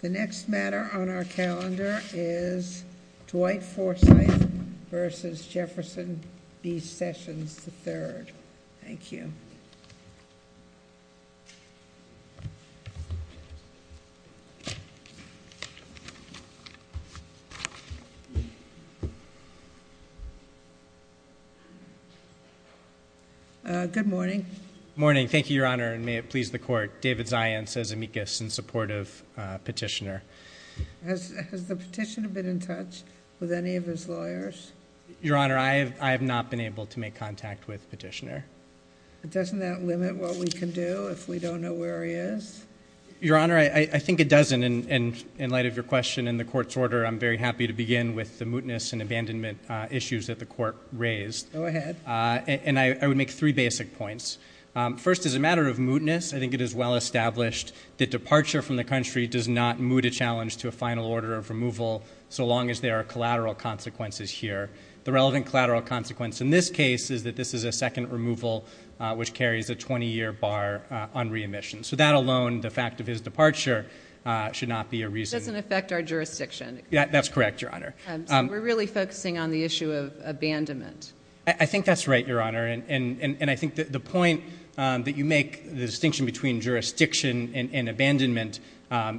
The next matter on our calendar is Dwight Forsythe v. Jefferson B. Sessions III. Thank you. Good morning. Good morning. Thank you, Your Honor, and may it please the Court. David Zients, as amicus, in support of Petitioner. Has the Petitioner been in touch with any of his lawyers? Your Honor, I have not been able to make contact with Petitioner. Doesn't that limit what we can do if we don't know where he is? Your Honor, I think it doesn't, and in light of your question and the Court's order, I'm very happy to begin with the mootness and abandonment issues that the Court raised. Go ahead. And I would make three basic points. First, as a matter of mootness, I think it is well established that departure from the country does not moot a challenge to a final order of removal, so long as there are collateral consequences here. The relevant collateral consequence in this case is that this is a second removal, which carries a 20-year bar on re-admission. So that alone, the fact of his departure, should not be a reason— It doesn't affect our jurisdiction. That's correct, Your Honor. So we're really focusing on the issue of abandonment. I think that's right, Your Honor, and I think the point that you make, the distinction between jurisdiction and abandonment,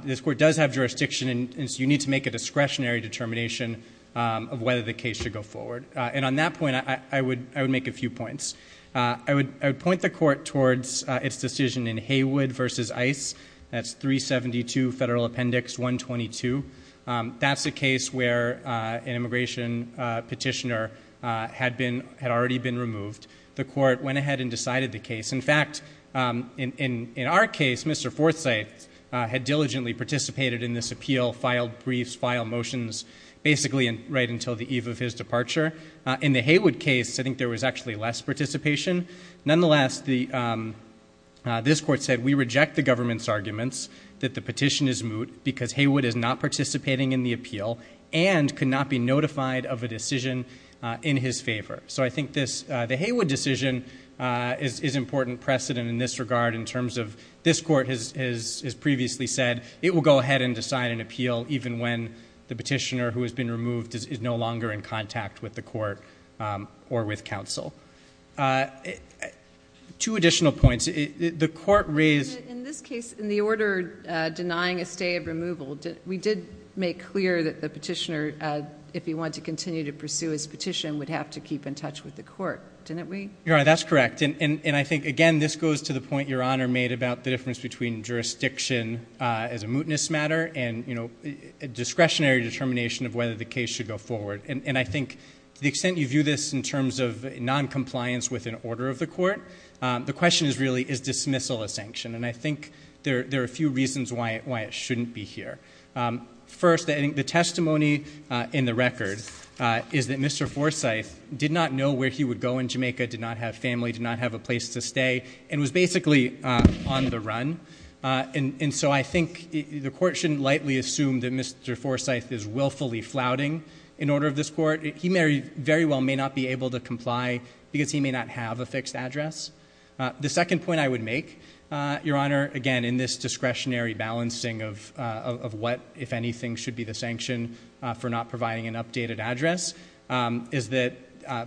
this Court does have jurisdiction, and so you need to make a discretionary determination of whether the case should go forward. And on that point, I would make a few points. I would point the Court towards its decision in Haywood v. Ice, that's 372 Federal Appendix 122. That's a case where an immigration petitioner had already been removed. The Court went ahead and decided the case. In fact, in our case, Mr. Forsythe had diligently participated in this appeal, filed briefs, filed motions, basically right until the eve of his departure. In the Haywood case, I think there was actually less participation. Nonetheless, this Court said, We reject the government's arguments that the petition is moot because Haywood is not participating in the appeal and could not be notified of a decision in his favor. So I think the Haywood decision is important precedent in this regard in terms of this Court has previously said it will go ahead and decide an appeal even when the petitioner who has been removed is no longer in contact with the Court or with counsel. Two additional points. The Court raised- In this case, in the order denying a stay of removal, we did make clear that the petitioner, if he wanted to continue to pursue his petition, would have to keep in touch with the Court, didn't we? You're right, that's correct. And I think, again, this goes to the point Your Honor made about the difference between jurisdiction as a mootness matter and a discretionary determination of whether the case should go forward. And I think to the extent you view this in terms of noncompliance with an order of the Court, the question is really, is dismissal a sanction? And I think there are a few reasons why it shouldn't be here. First, I think the testimony in the record is that Mr. Forsyth did not know where he would go in Jamaica, did not have family, did not have a place to stay, and was basically on the run. And so I think the Court shouldn't lightly assume that Mr. Forsyth is willfully flouting an order of this Court. He very well may not be able to comply because he may not have a fixed address. The second point I would make, Your Honor, again, in this discretionary balancing of what, if anything, should be the sanction for not providing an updated address, is that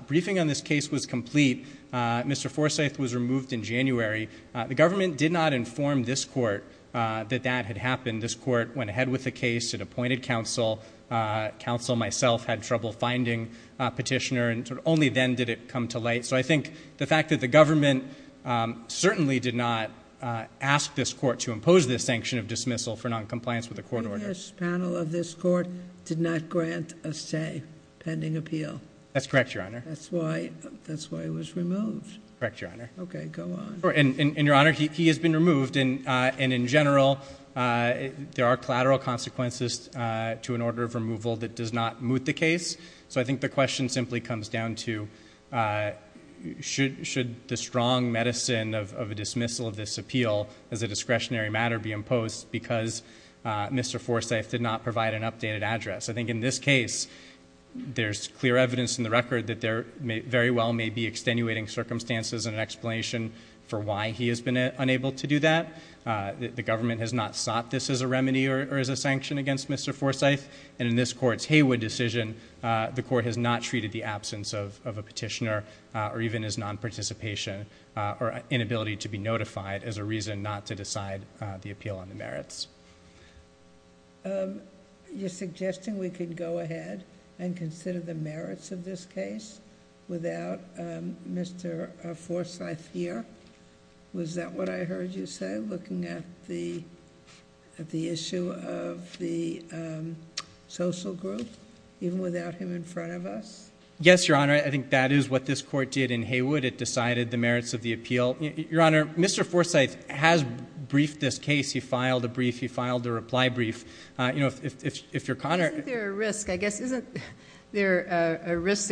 briefing on this case was complete. Mr. Forsyth was removed in January. The government did not inform this Court that that had happened. This Court went ahead with the case, it appointed counsel. Counsel, myself, had trouble finding a petitioner, and only then did it come to light. So I think the fact that the government certainly did not ask this Court to impose this sanction of dismissal for noncompliance with a court order. This panel of this Court did not grant a say pending appeal. That's correct, Your Honor. That's why he was removed. Correct, Your Honor. Okay, go on. And, Your Honor, he has been removed. And in general, there are collateral consequences to an order of removal that does not moot the case. So I think the question simply comes down to should the strong medicine of a dismissal of this appeal as a discretionary matter be imposed because Mr. Forsyth did not provide an updated address? I think in this case, there's clear evidence in the record that there very well may be extenuating circumstances and an explanation for why he has been unable to do that. The government has not sought this as a remedy or as a sanction against Mr. Forsyth. And in this Court's Haywood decision, the Court has not treated the absence of a petitioner or even his nonparticipation or inability to be notified as a reason not to decide the appeal on the merits. You're suggesting we could go ahead and consider the merits of this case without Mr. Forsyth here? Was that what I heard you say, looking at the issue of the social group, even without him in front of us? Yes, Your Honor. I think that is what this Court did in Haywood. It decided the merits of the appeal. Your Honor, Mr. Forsyth has briefed this case. He filed a brief. He filed a reply brief. Isn't there a risk that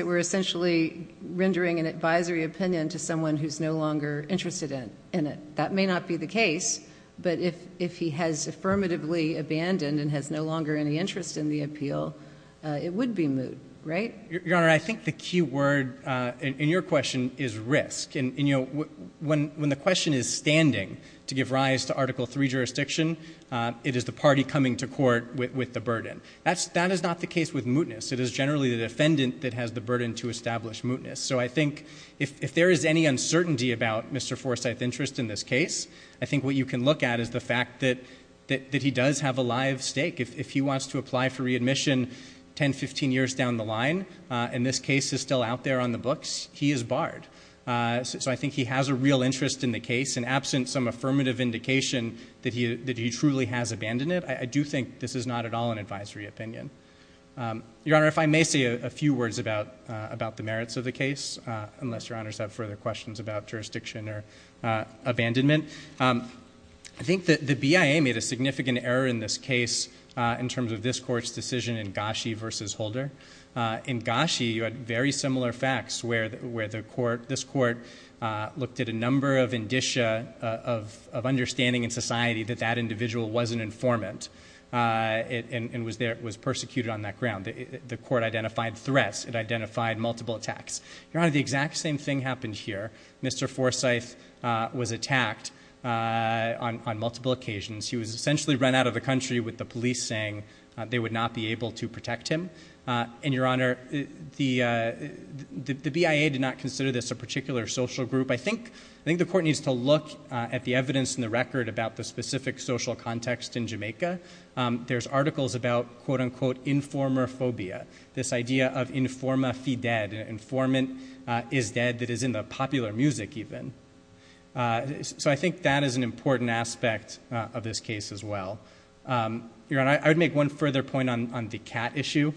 we're essentially rendering an advisory opinion to someone who's no longer interested in it? That may not be the case, but if he has affirmatively abandoned and has no longer any interest in the appeal, it would be moot, right? Your Honor, I think the key word in your question is risk. When the question is standing to give rise to Article III jurisdiction, it is the party coming to court with the burden. That is not the case with mootness. It is generally the defendant that has the burden to establish mootness. So I think if there is any uncertainty about Mr. Forsyth's interest in this case, I think what you can look at is the fact that he does have a live stake. If he wants to apply for readmission 10, 15 years down the line, and this case is still out there on the books, he is barred. So I think he has a real interest in the case, and absent some affirmative indication that he truly has abandoned it, I do think this is not at all an advisory opinion. Your Honor, if I may say a few words about the merits of the case, unless Your Honors have further questions about jurisdiction or abandonment. I think the BIA made a significant error in this case in terms of this court's decision in Gashi v. Holder. In Gashi, you had very similar facts where this court looked at a number of indicia of understanding in society that that individual wasn't informant and was persecuted on that ground. The court identified threats. It identified multiple attacks. Your Honor, the exact same thing happened here. Mr. Forsyth was attacked on multiple occasions. He was essentially run out of the country with the police saying they would not be able to protect him. And, Your Honor, the BIA did not consider this a particular social group. I think the court needs to look at the evidence in the record about the specific social context in Jamaica. There's articles about, quote, unquote, informer phobia, this idea of informa fi dead, informant is dead, that is in the popular music even. So I think that is an important aspect of this case as well. Your Honor, I would make one further point on the cat issue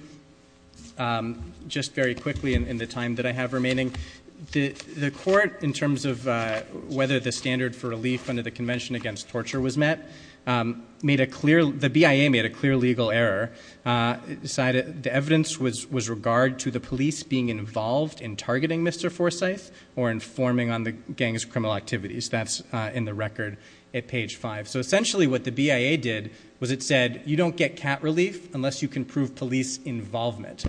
just very quickly in the time that I have remaining. The court, in terms of whether the standard for relief under the Convention Against Torture was met, made a clear, the BIA made a clear legal error. The evidence was regard to the police being involved in targeting Mr. Forsyth or informing on the gang's criminal activities. That's in the record at page five. So essentially what the BIA did was it said you don't get cat relief unless you can prove police involvement.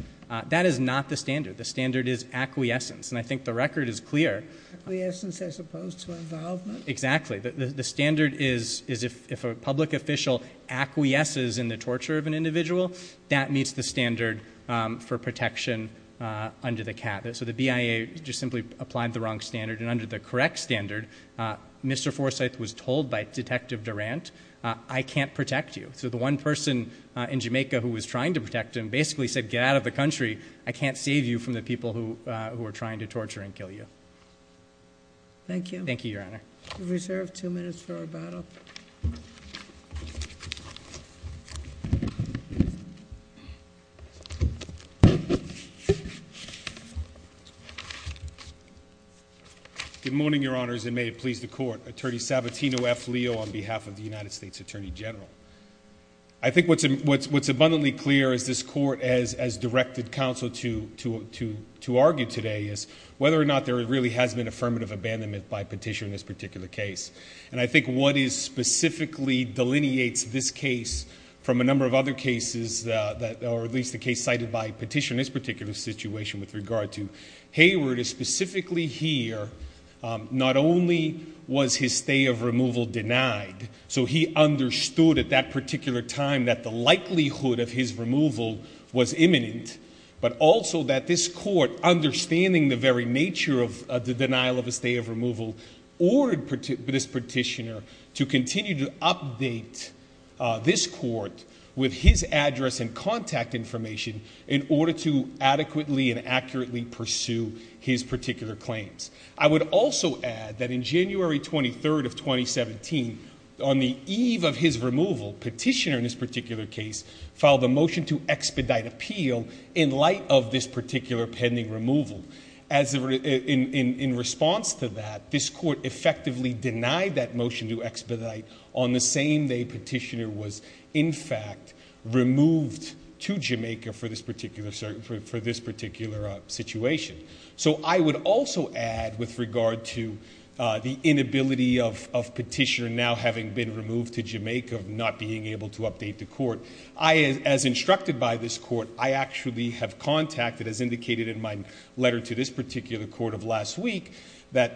That is not the standard. The standard is acquiescence, and I think the record is clear. Acquiescence as opposed to involvement? Exactly. The standard is if a public official acquiesces in the torture of an individual, that meets the standard for protection under the cat. So the BIA just simply applied the wrong standard. And under the correct standard, Mr. Forsyth was told by Detective Durant, I can't protect you. So the one person in Jamaica who was trying to protect him basically said, get out of the country. I can't save you from the people who are trying to torture and kill you. Thank you. Thank you, Your Honor. We reserve two minutes for our battle. Good morning, Your Honors, and may it please the Court. Attorney Sabatino F. Leo on behalf of the United States Attorney General. I think what's abundantly clear is this Court, as directed counsel to argue today, is whether or not there really has been affirmative abandonment by Petitioner in this particular case. And I think what specifically delineates this case from a number of other cases, or at least the case cited by Petitioner in this particular situation with regard to Hayward, is specifically here, not only was his stay of removal denied, so he understood at that particular time that the likelihood of his removal was imminent, but also that this Court, understanding the very nature of the denial of a stay of removal, ordered this Petitioner to continue to update this Court with his address and contact information in order to adequately and accurately pursue his particular claims. I would also add that in January 23rd of 2017, on the eve of his removal, Petitioner in this particular case filed a motion to expedite appeal in light of this particular pending removal. In response to that, this Court effectively denied that motion to expedite on the same day Petitioner was, in fact, removed to Jamaica for this particular situation. So I would also add with regard to the inability of Petitioner now having been removed to Jamaica of not being able to update the Court, as instructed by this Court, I actually have contacted, as indicated in my letter to this particular Court of last week,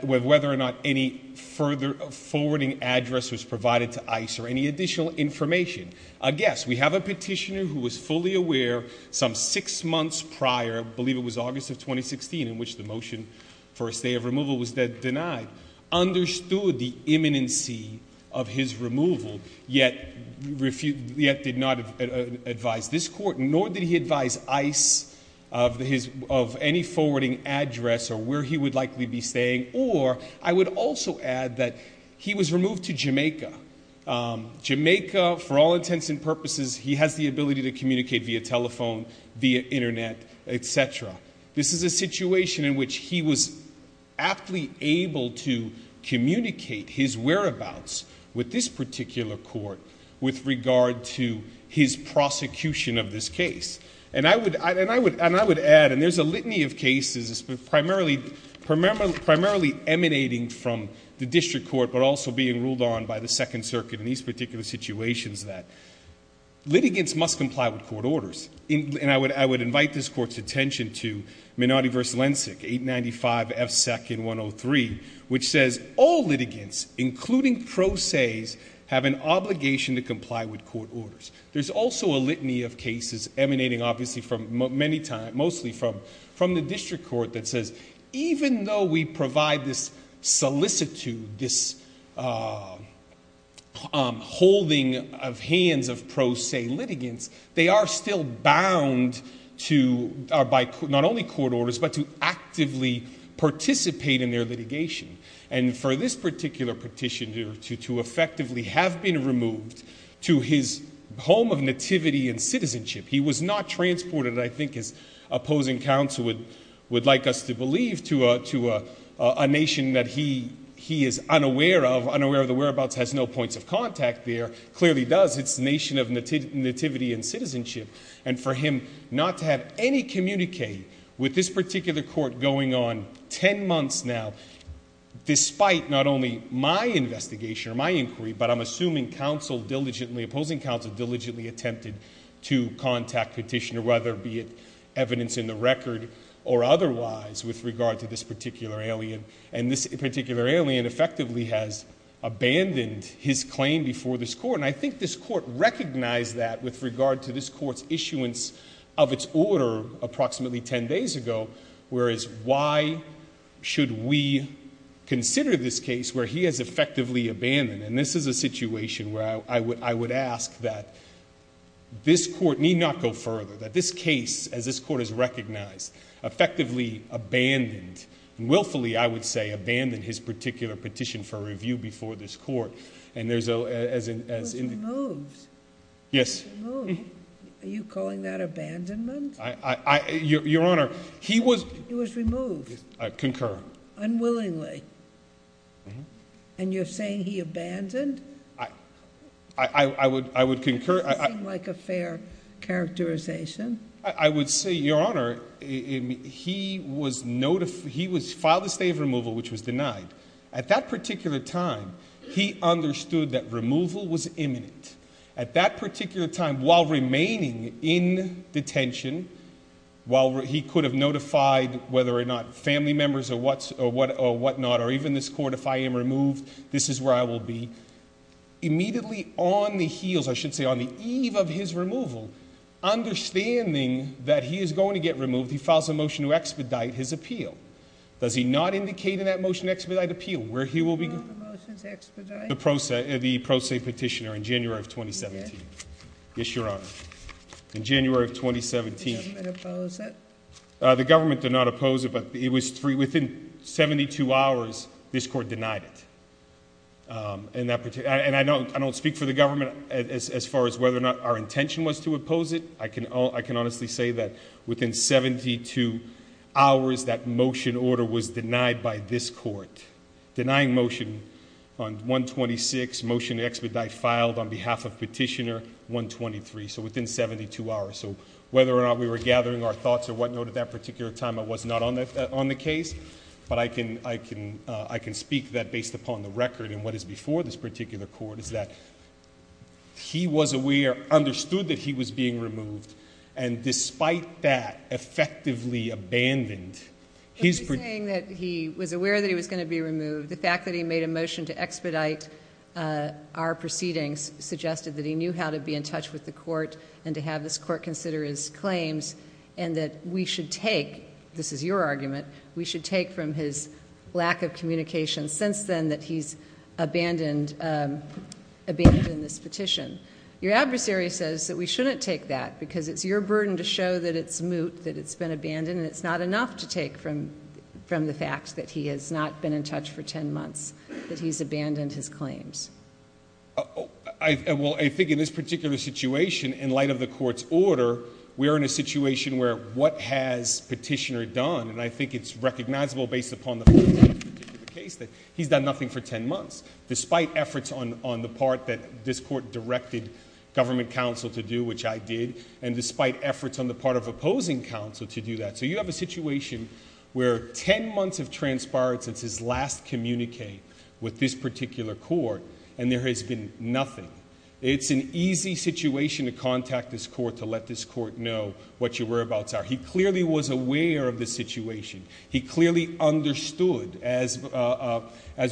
whether or not any further forwarding address was provided to ICE or any additional information. Yes, we have a Petitioner who was fully aware some six months prior, I believe it was August of 2016, in which the motion for a stay of removal was denied, understood the imminency of his removal, yet did not advise this Court, nor did he advise ICE of any forwarding address or where he would likely be staying, or I would also add that he was removed to Jamaica. For all intents and purposes, he has the ability to communicate via telephone, via internet, etc. This is a situation in which he was aptly able to communicate his whereabouts with this particular Court with regard to his prosecution of this case. And I would add, and there's a litany of cases primarily emanating from the District Court but also being ruled on by the Second Circuit in these particular situations, that litigants must comply with court orders. And I would invite this Court's attention to Menotti v. Lensick, 895 F. 2nd 103, which says all litigants, including pro ses, have an obligation to comply with court orders. There's also a litany of cases emanating, obviously, from many times, mostly from the District Court, that says even though we provide this solicitude, this holding of hands of pro se litigants, they are still bound to, not only court orders, but to actively participate in their litigation. And for this particular petitioner to effectively have been removed to his home of nativity and citizenship, he was not transported, I think as opposing counsel would like us to believe, to a nation that he is unaware of, unaware of the whereabouts, has no points of contact there, clearly does, it's a nation of nativity and citizenship, and for him not to have any communique with this particular Court going on ten months now, despite not only my investigation or my inquiry, but I'm assuming opposing counsel diligently attempted to contact petitioner, whether it be evidence in the record or otherwise, with regard to this particular alien. And this particular alien effectively has abandoned his claim before this Court, and I think this Court recognized that with regard to this Court's issuance of its order approximately ten days ago, whereas why should we consider this case where he has effectively abandoned? And this is a situation where I would ask that this Court need not go further, that this case, as this Court has recognized, effectively abandoned, and willfully, I would say, abandoned his particular petition for review before this Court. And there's a... He was removed. Yes. Removed. Are you calling that abandonment? Your Honor, he was... He was removed. I concur. Unwillingly. And you're saying he abandoned? I would concur. It doesn't seem like a fair characterization. I would say, Your Honor, he was notified... He was filed a state of removal, which was denied. At that particular time, he understood that removal was imminent. At that particular time, while remaining in detention, while he could have notified, whether or not family members or whatnot, or even this Court, if I am removed, this is where I will be, immediately on the heels, I should say on the eve of his removal, understanding that he is going to get removed, he files a motion to expedite his appeal. Does he not indicate in that motion to expedite appeal where he will be... Will the motions expedite? The pro se petitioner in January of 2017. Yes. Yes, Your Honor. In January of 2017. Did the government oppose it? The government did not oppose it, but it was three... Within 72 hours, this Court denied it. And I don't speak for the government as far as whether or not our intention was to oppose it. I can honestly say that within 72 hours, that motion order was denied by this Court. Denying motion on 126, motion to expedite filed on behalf of petitioner 123. So within 72 hours. So whether or not we were gathering our thoughts or whatnot at that particular time, I was not on the case. But I can speak that based upon the record and what is before this particular Court is that he was aware, understood that he was being removed, and despite that, effectively abandoned his... When you're saying that he was aware that he was going to be removed, the fact that he made a motion to expedite our proceedings suggested that he knew how to be in touch with the Court and to have this Court consider his claims and that we should take, this is your argument, we should take from his lack of communication since then that he's abandoned this petition. Your adversary says that we shouldn't take that because it's your burden to show that it's moot, that it's been abandoned, and it's not enough to take from the fact that he has not been in touch for 10 months, that he's abandoned his claims. Well, I think in this particular situation, in light of the Court's order, we are in a situation where what has petitioner done, and I think it's recognizable based upon the... in this particular case that he's done nothing for 10 months, despite efforts on the part that this Court directed government counsel to do, which I did, and despite efforts on the part of opposing counsel to do that. So you have a situation where 10 months have transpired since his last communique with this particular Court, and there has been nothing. It's an easy situation to contact this Court to let this Court know what your whereabouts are. He clearly was aware of the situation. He clearly understood, as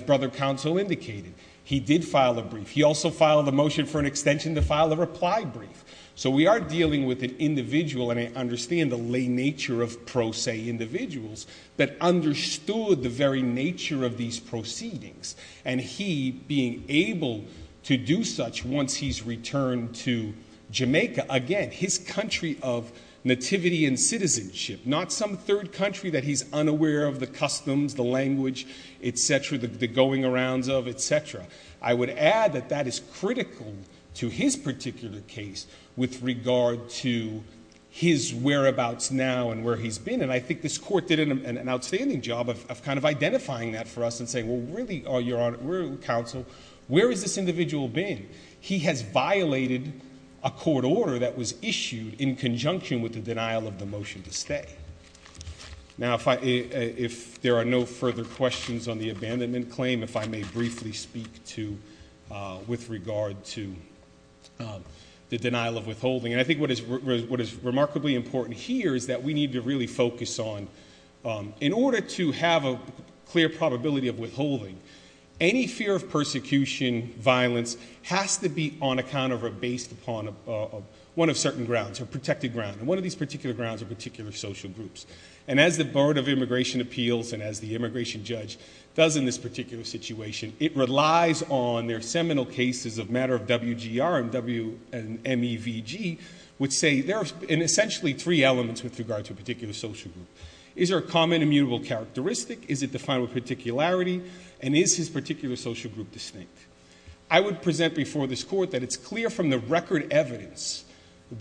Brother Counsel indicated. He did file a brief. He also filed a motion for an extension to file a reply brief. So we are dealing with an individual, and I understand the lay nature of pro se individuals, that understood the very nature of these proceedings, and he being able to do such once he's returned to Jamaica, again, his country of nativity and citizenship, not some third country that he's unaware of the customs, the language, et cetera, the going arounds of, et cetera. I would add that that is critical to his particular case with regard to his whereabouts now and where he's been, and I think this Court did an outstanding job of kind of identifying that for us and saying, well, really, Your Honor, Brother Counsel, where has this individual been? He has violated a court order that was issued in conjunction with the denial of the motion to stay. Now, if there are no further questions on the abandonment claim, if I may briefly speak with regard to the denial of withholding. And I think what is remarkably important here is that we need to really focus on, in order to have a clear probability of withholding, any fear of persecution, violence has to be on account of or based upon one of certain grounds, a protected ground. And one of these particular grounds are particular social groups. And as the Board of Immigration Appeals and as the immigration judge does in this particular situation, it relies on their seminal cases of matter of WGR and MEVG, which say there are essentially three elements with regard to a particular social group. Is there a common immutable characteristic? Is it defined with particularity? And is his particular social group distinct? I would present before this court that it's clear from the record evidence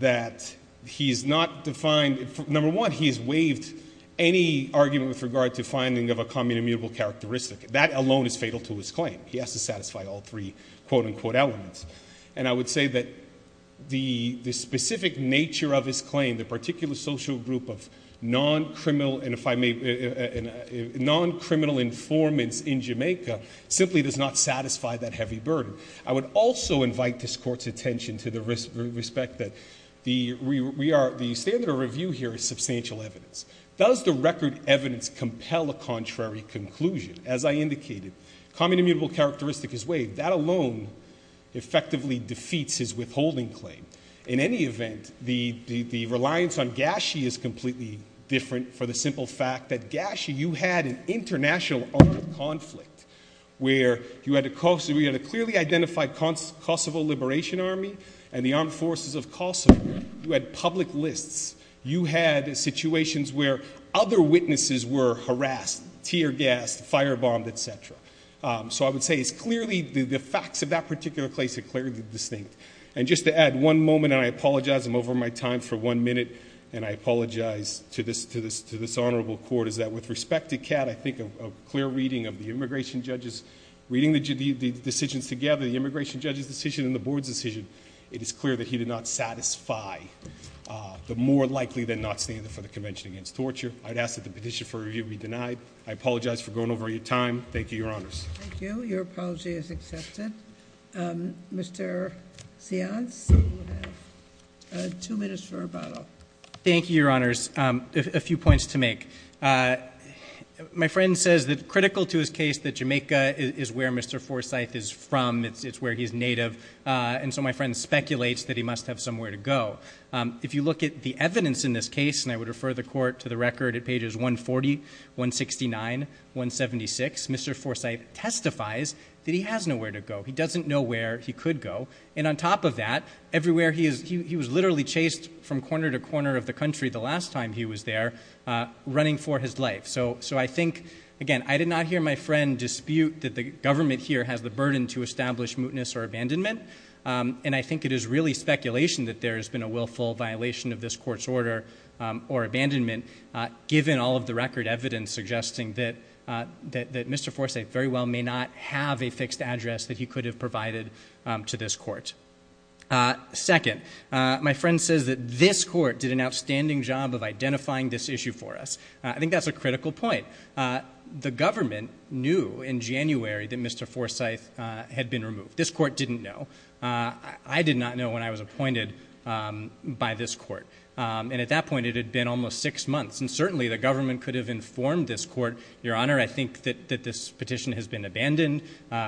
that he's not defined. Number one, he's waived any argument with regard to finding of a common immutable characteristic. That alone is fatal to his claim. He has to satisfy all three quote-unquote elements. And I would say that the specific nature of his claim, the particular social group of non-criminal informants in Jamaica, simply does not satisfy that heavy burden. I would also invite this court's attention to the respect that the standard of review here is substantial evidence. Does the record evidence compel a contrary conclusion? As I indicated, common immutable characteristic is waived. That alone effectively defeats his withholding claim. In any event, the reliance on Gashie is completely different for the simple fact that Gashie, you had an international armed conflict where you had a clearly identified Kosovo Liberation Army and the armed forces of Kosovo. You had public lists. You had situations where other witnesses were harassed, tear-gassed, fire-bombed, etc. So I would say it's clearly the facts of that particular case are clearly distinct. And just to add one moment, and I apologize, I'm over my time for one minute, and I apologize to this honorable court, is that with respect to Kat, I think a clear reading of the immigration judge's, reading the decisions together, the immigration judge's decision and the board's decision, it is clear that he did not satisfy the more likely than not standard for the Convention Against Torture. I'd ask that the petition for review be denied. I apologize for going over your time. Thank you, Your Honors. Thank you. Your apology is accepted. Mr. Seance, you have two minutes for rebuttal. Thank you, Your Honors. A few points to make. My friend says that critical to his case that Jamaica is where Mr. Forsythe is from. It's where he's native. And so my friend speculates that he must have somewhere to go. If you look at the evidence in this case, and I would refer the court to the record at pages 140, 169, 176, Mr. Forsythe testifies that he has nowhere to go. He doesn't know where he could go. And on top of that, everywhere he is, he was literally chased from corner to corner of the country the last time he was there, running for his life. So I think, again, I did not hear my friend dispute that the government here has the burden to establish mootness or abandonment. And I think it is really speculation that there has been a willful violation of this court's order or abandonment given all of the record evidence suggesting that Mr. Forsythe very well may not have a fixed address that he could have provided to this court. Second, my friend says that this court did an outstanding job of identifying this issue for us. I think that's a critical point. The government knew in January that Mr. Forsythe had been removed. This court didn't know. I did not know when I was appointed by this court. And at that point, it had been almost six months. And certainly the government could have informed this court, Your Honor, I think that this petition has been abandoned.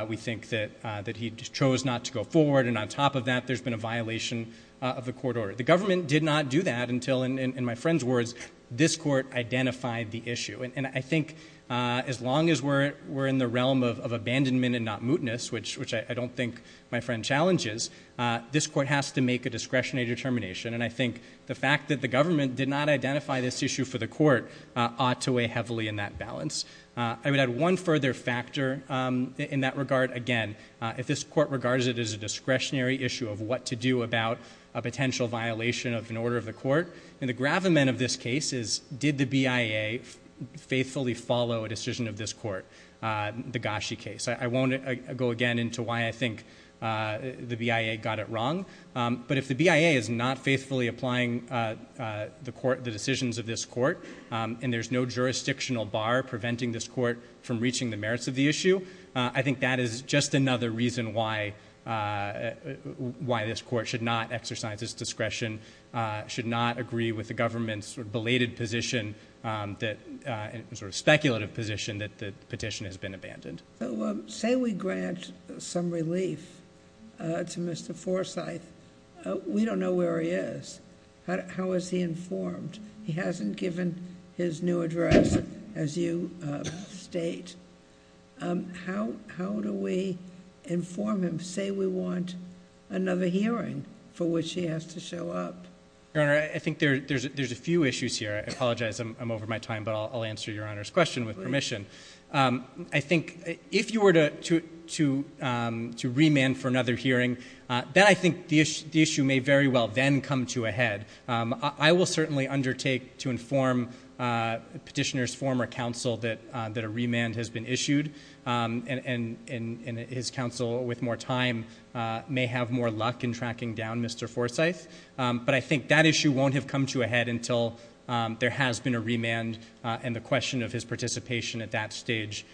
We think that he chose not to go forward. And on top of that, there's been a violation of the court order. The government did not do that until, in my friend's words, this court identified the issue. And I think as long as we're in the realm of abandonment and not mootness, which I don't think my friend challenges, this court has to make a discretionary determination. And I think the fact that the government did not identify this issue for the court ought to weigh heavily in that balance. I would add one further factor in that regard. Again, if this court regards it as a discretionary issue of what to do about a potential violation of an order of the court, the gravamen of this case is did the BIA faithfully follow a decision of this court, the Gashi case. I won't go again into why I think the BIA got it wrong. But if the BIA is not faithfully applying the decisions of this court and there's no jurisdictional bar preventing this court from reaching the merits of the issue, I think that is just another reason why this court should not exercise its discretion, should not agree with the government's belated position, sort of speculative position, that the petition has been abandoned. Say we grant some relief to Mr. Forsyth. We don't know where he is. How is he informed? He hasn't given his new address, as you state. How do we inform him? Say we want another hearing for which he has to show up. Your Honor, I think there's a few issues here. I apologize. I'm over my time, but I'll answer Your Honor's question with permission. I think if you were to remand for another hearing, then I think the issue may very well then come to a head. I will certainly undertake to inform Petitioner's former counsel that a remand has been issued, and his counsel with more time may have more luck in tracking down Mr. Forsyth. But I think that issue won't have come to a head until there has been a remand and the question of his participation at that stage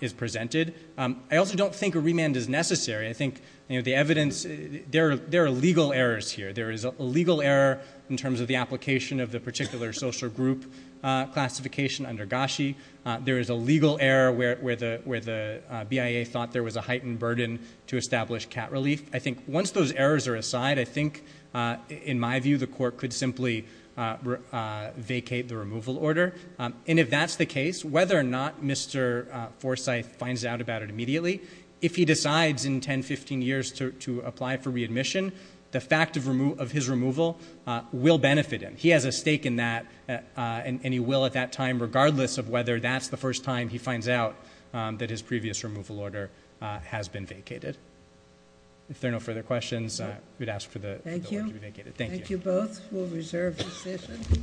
is presented. I also don't think a remand is necessary. I think the evidence, there are legal errors here. There is a legal error in terms of the application of the particular social group classification under Gashi. There is a legal error where the BIA thought there was a heightened burden to establish cat relief. I think once those errors are aside, I think, in my view, the court could simply vacate the removal order. And if that's the case, whether or not Mr. Forsyth finds out about it immediately, if he decides in 10, 15 years to apply for readmission, the fact of his removal will benefit him. He has a stake in that, and he will at that time, If there are no further questions, I would ask for the order to be vacated. Thank you.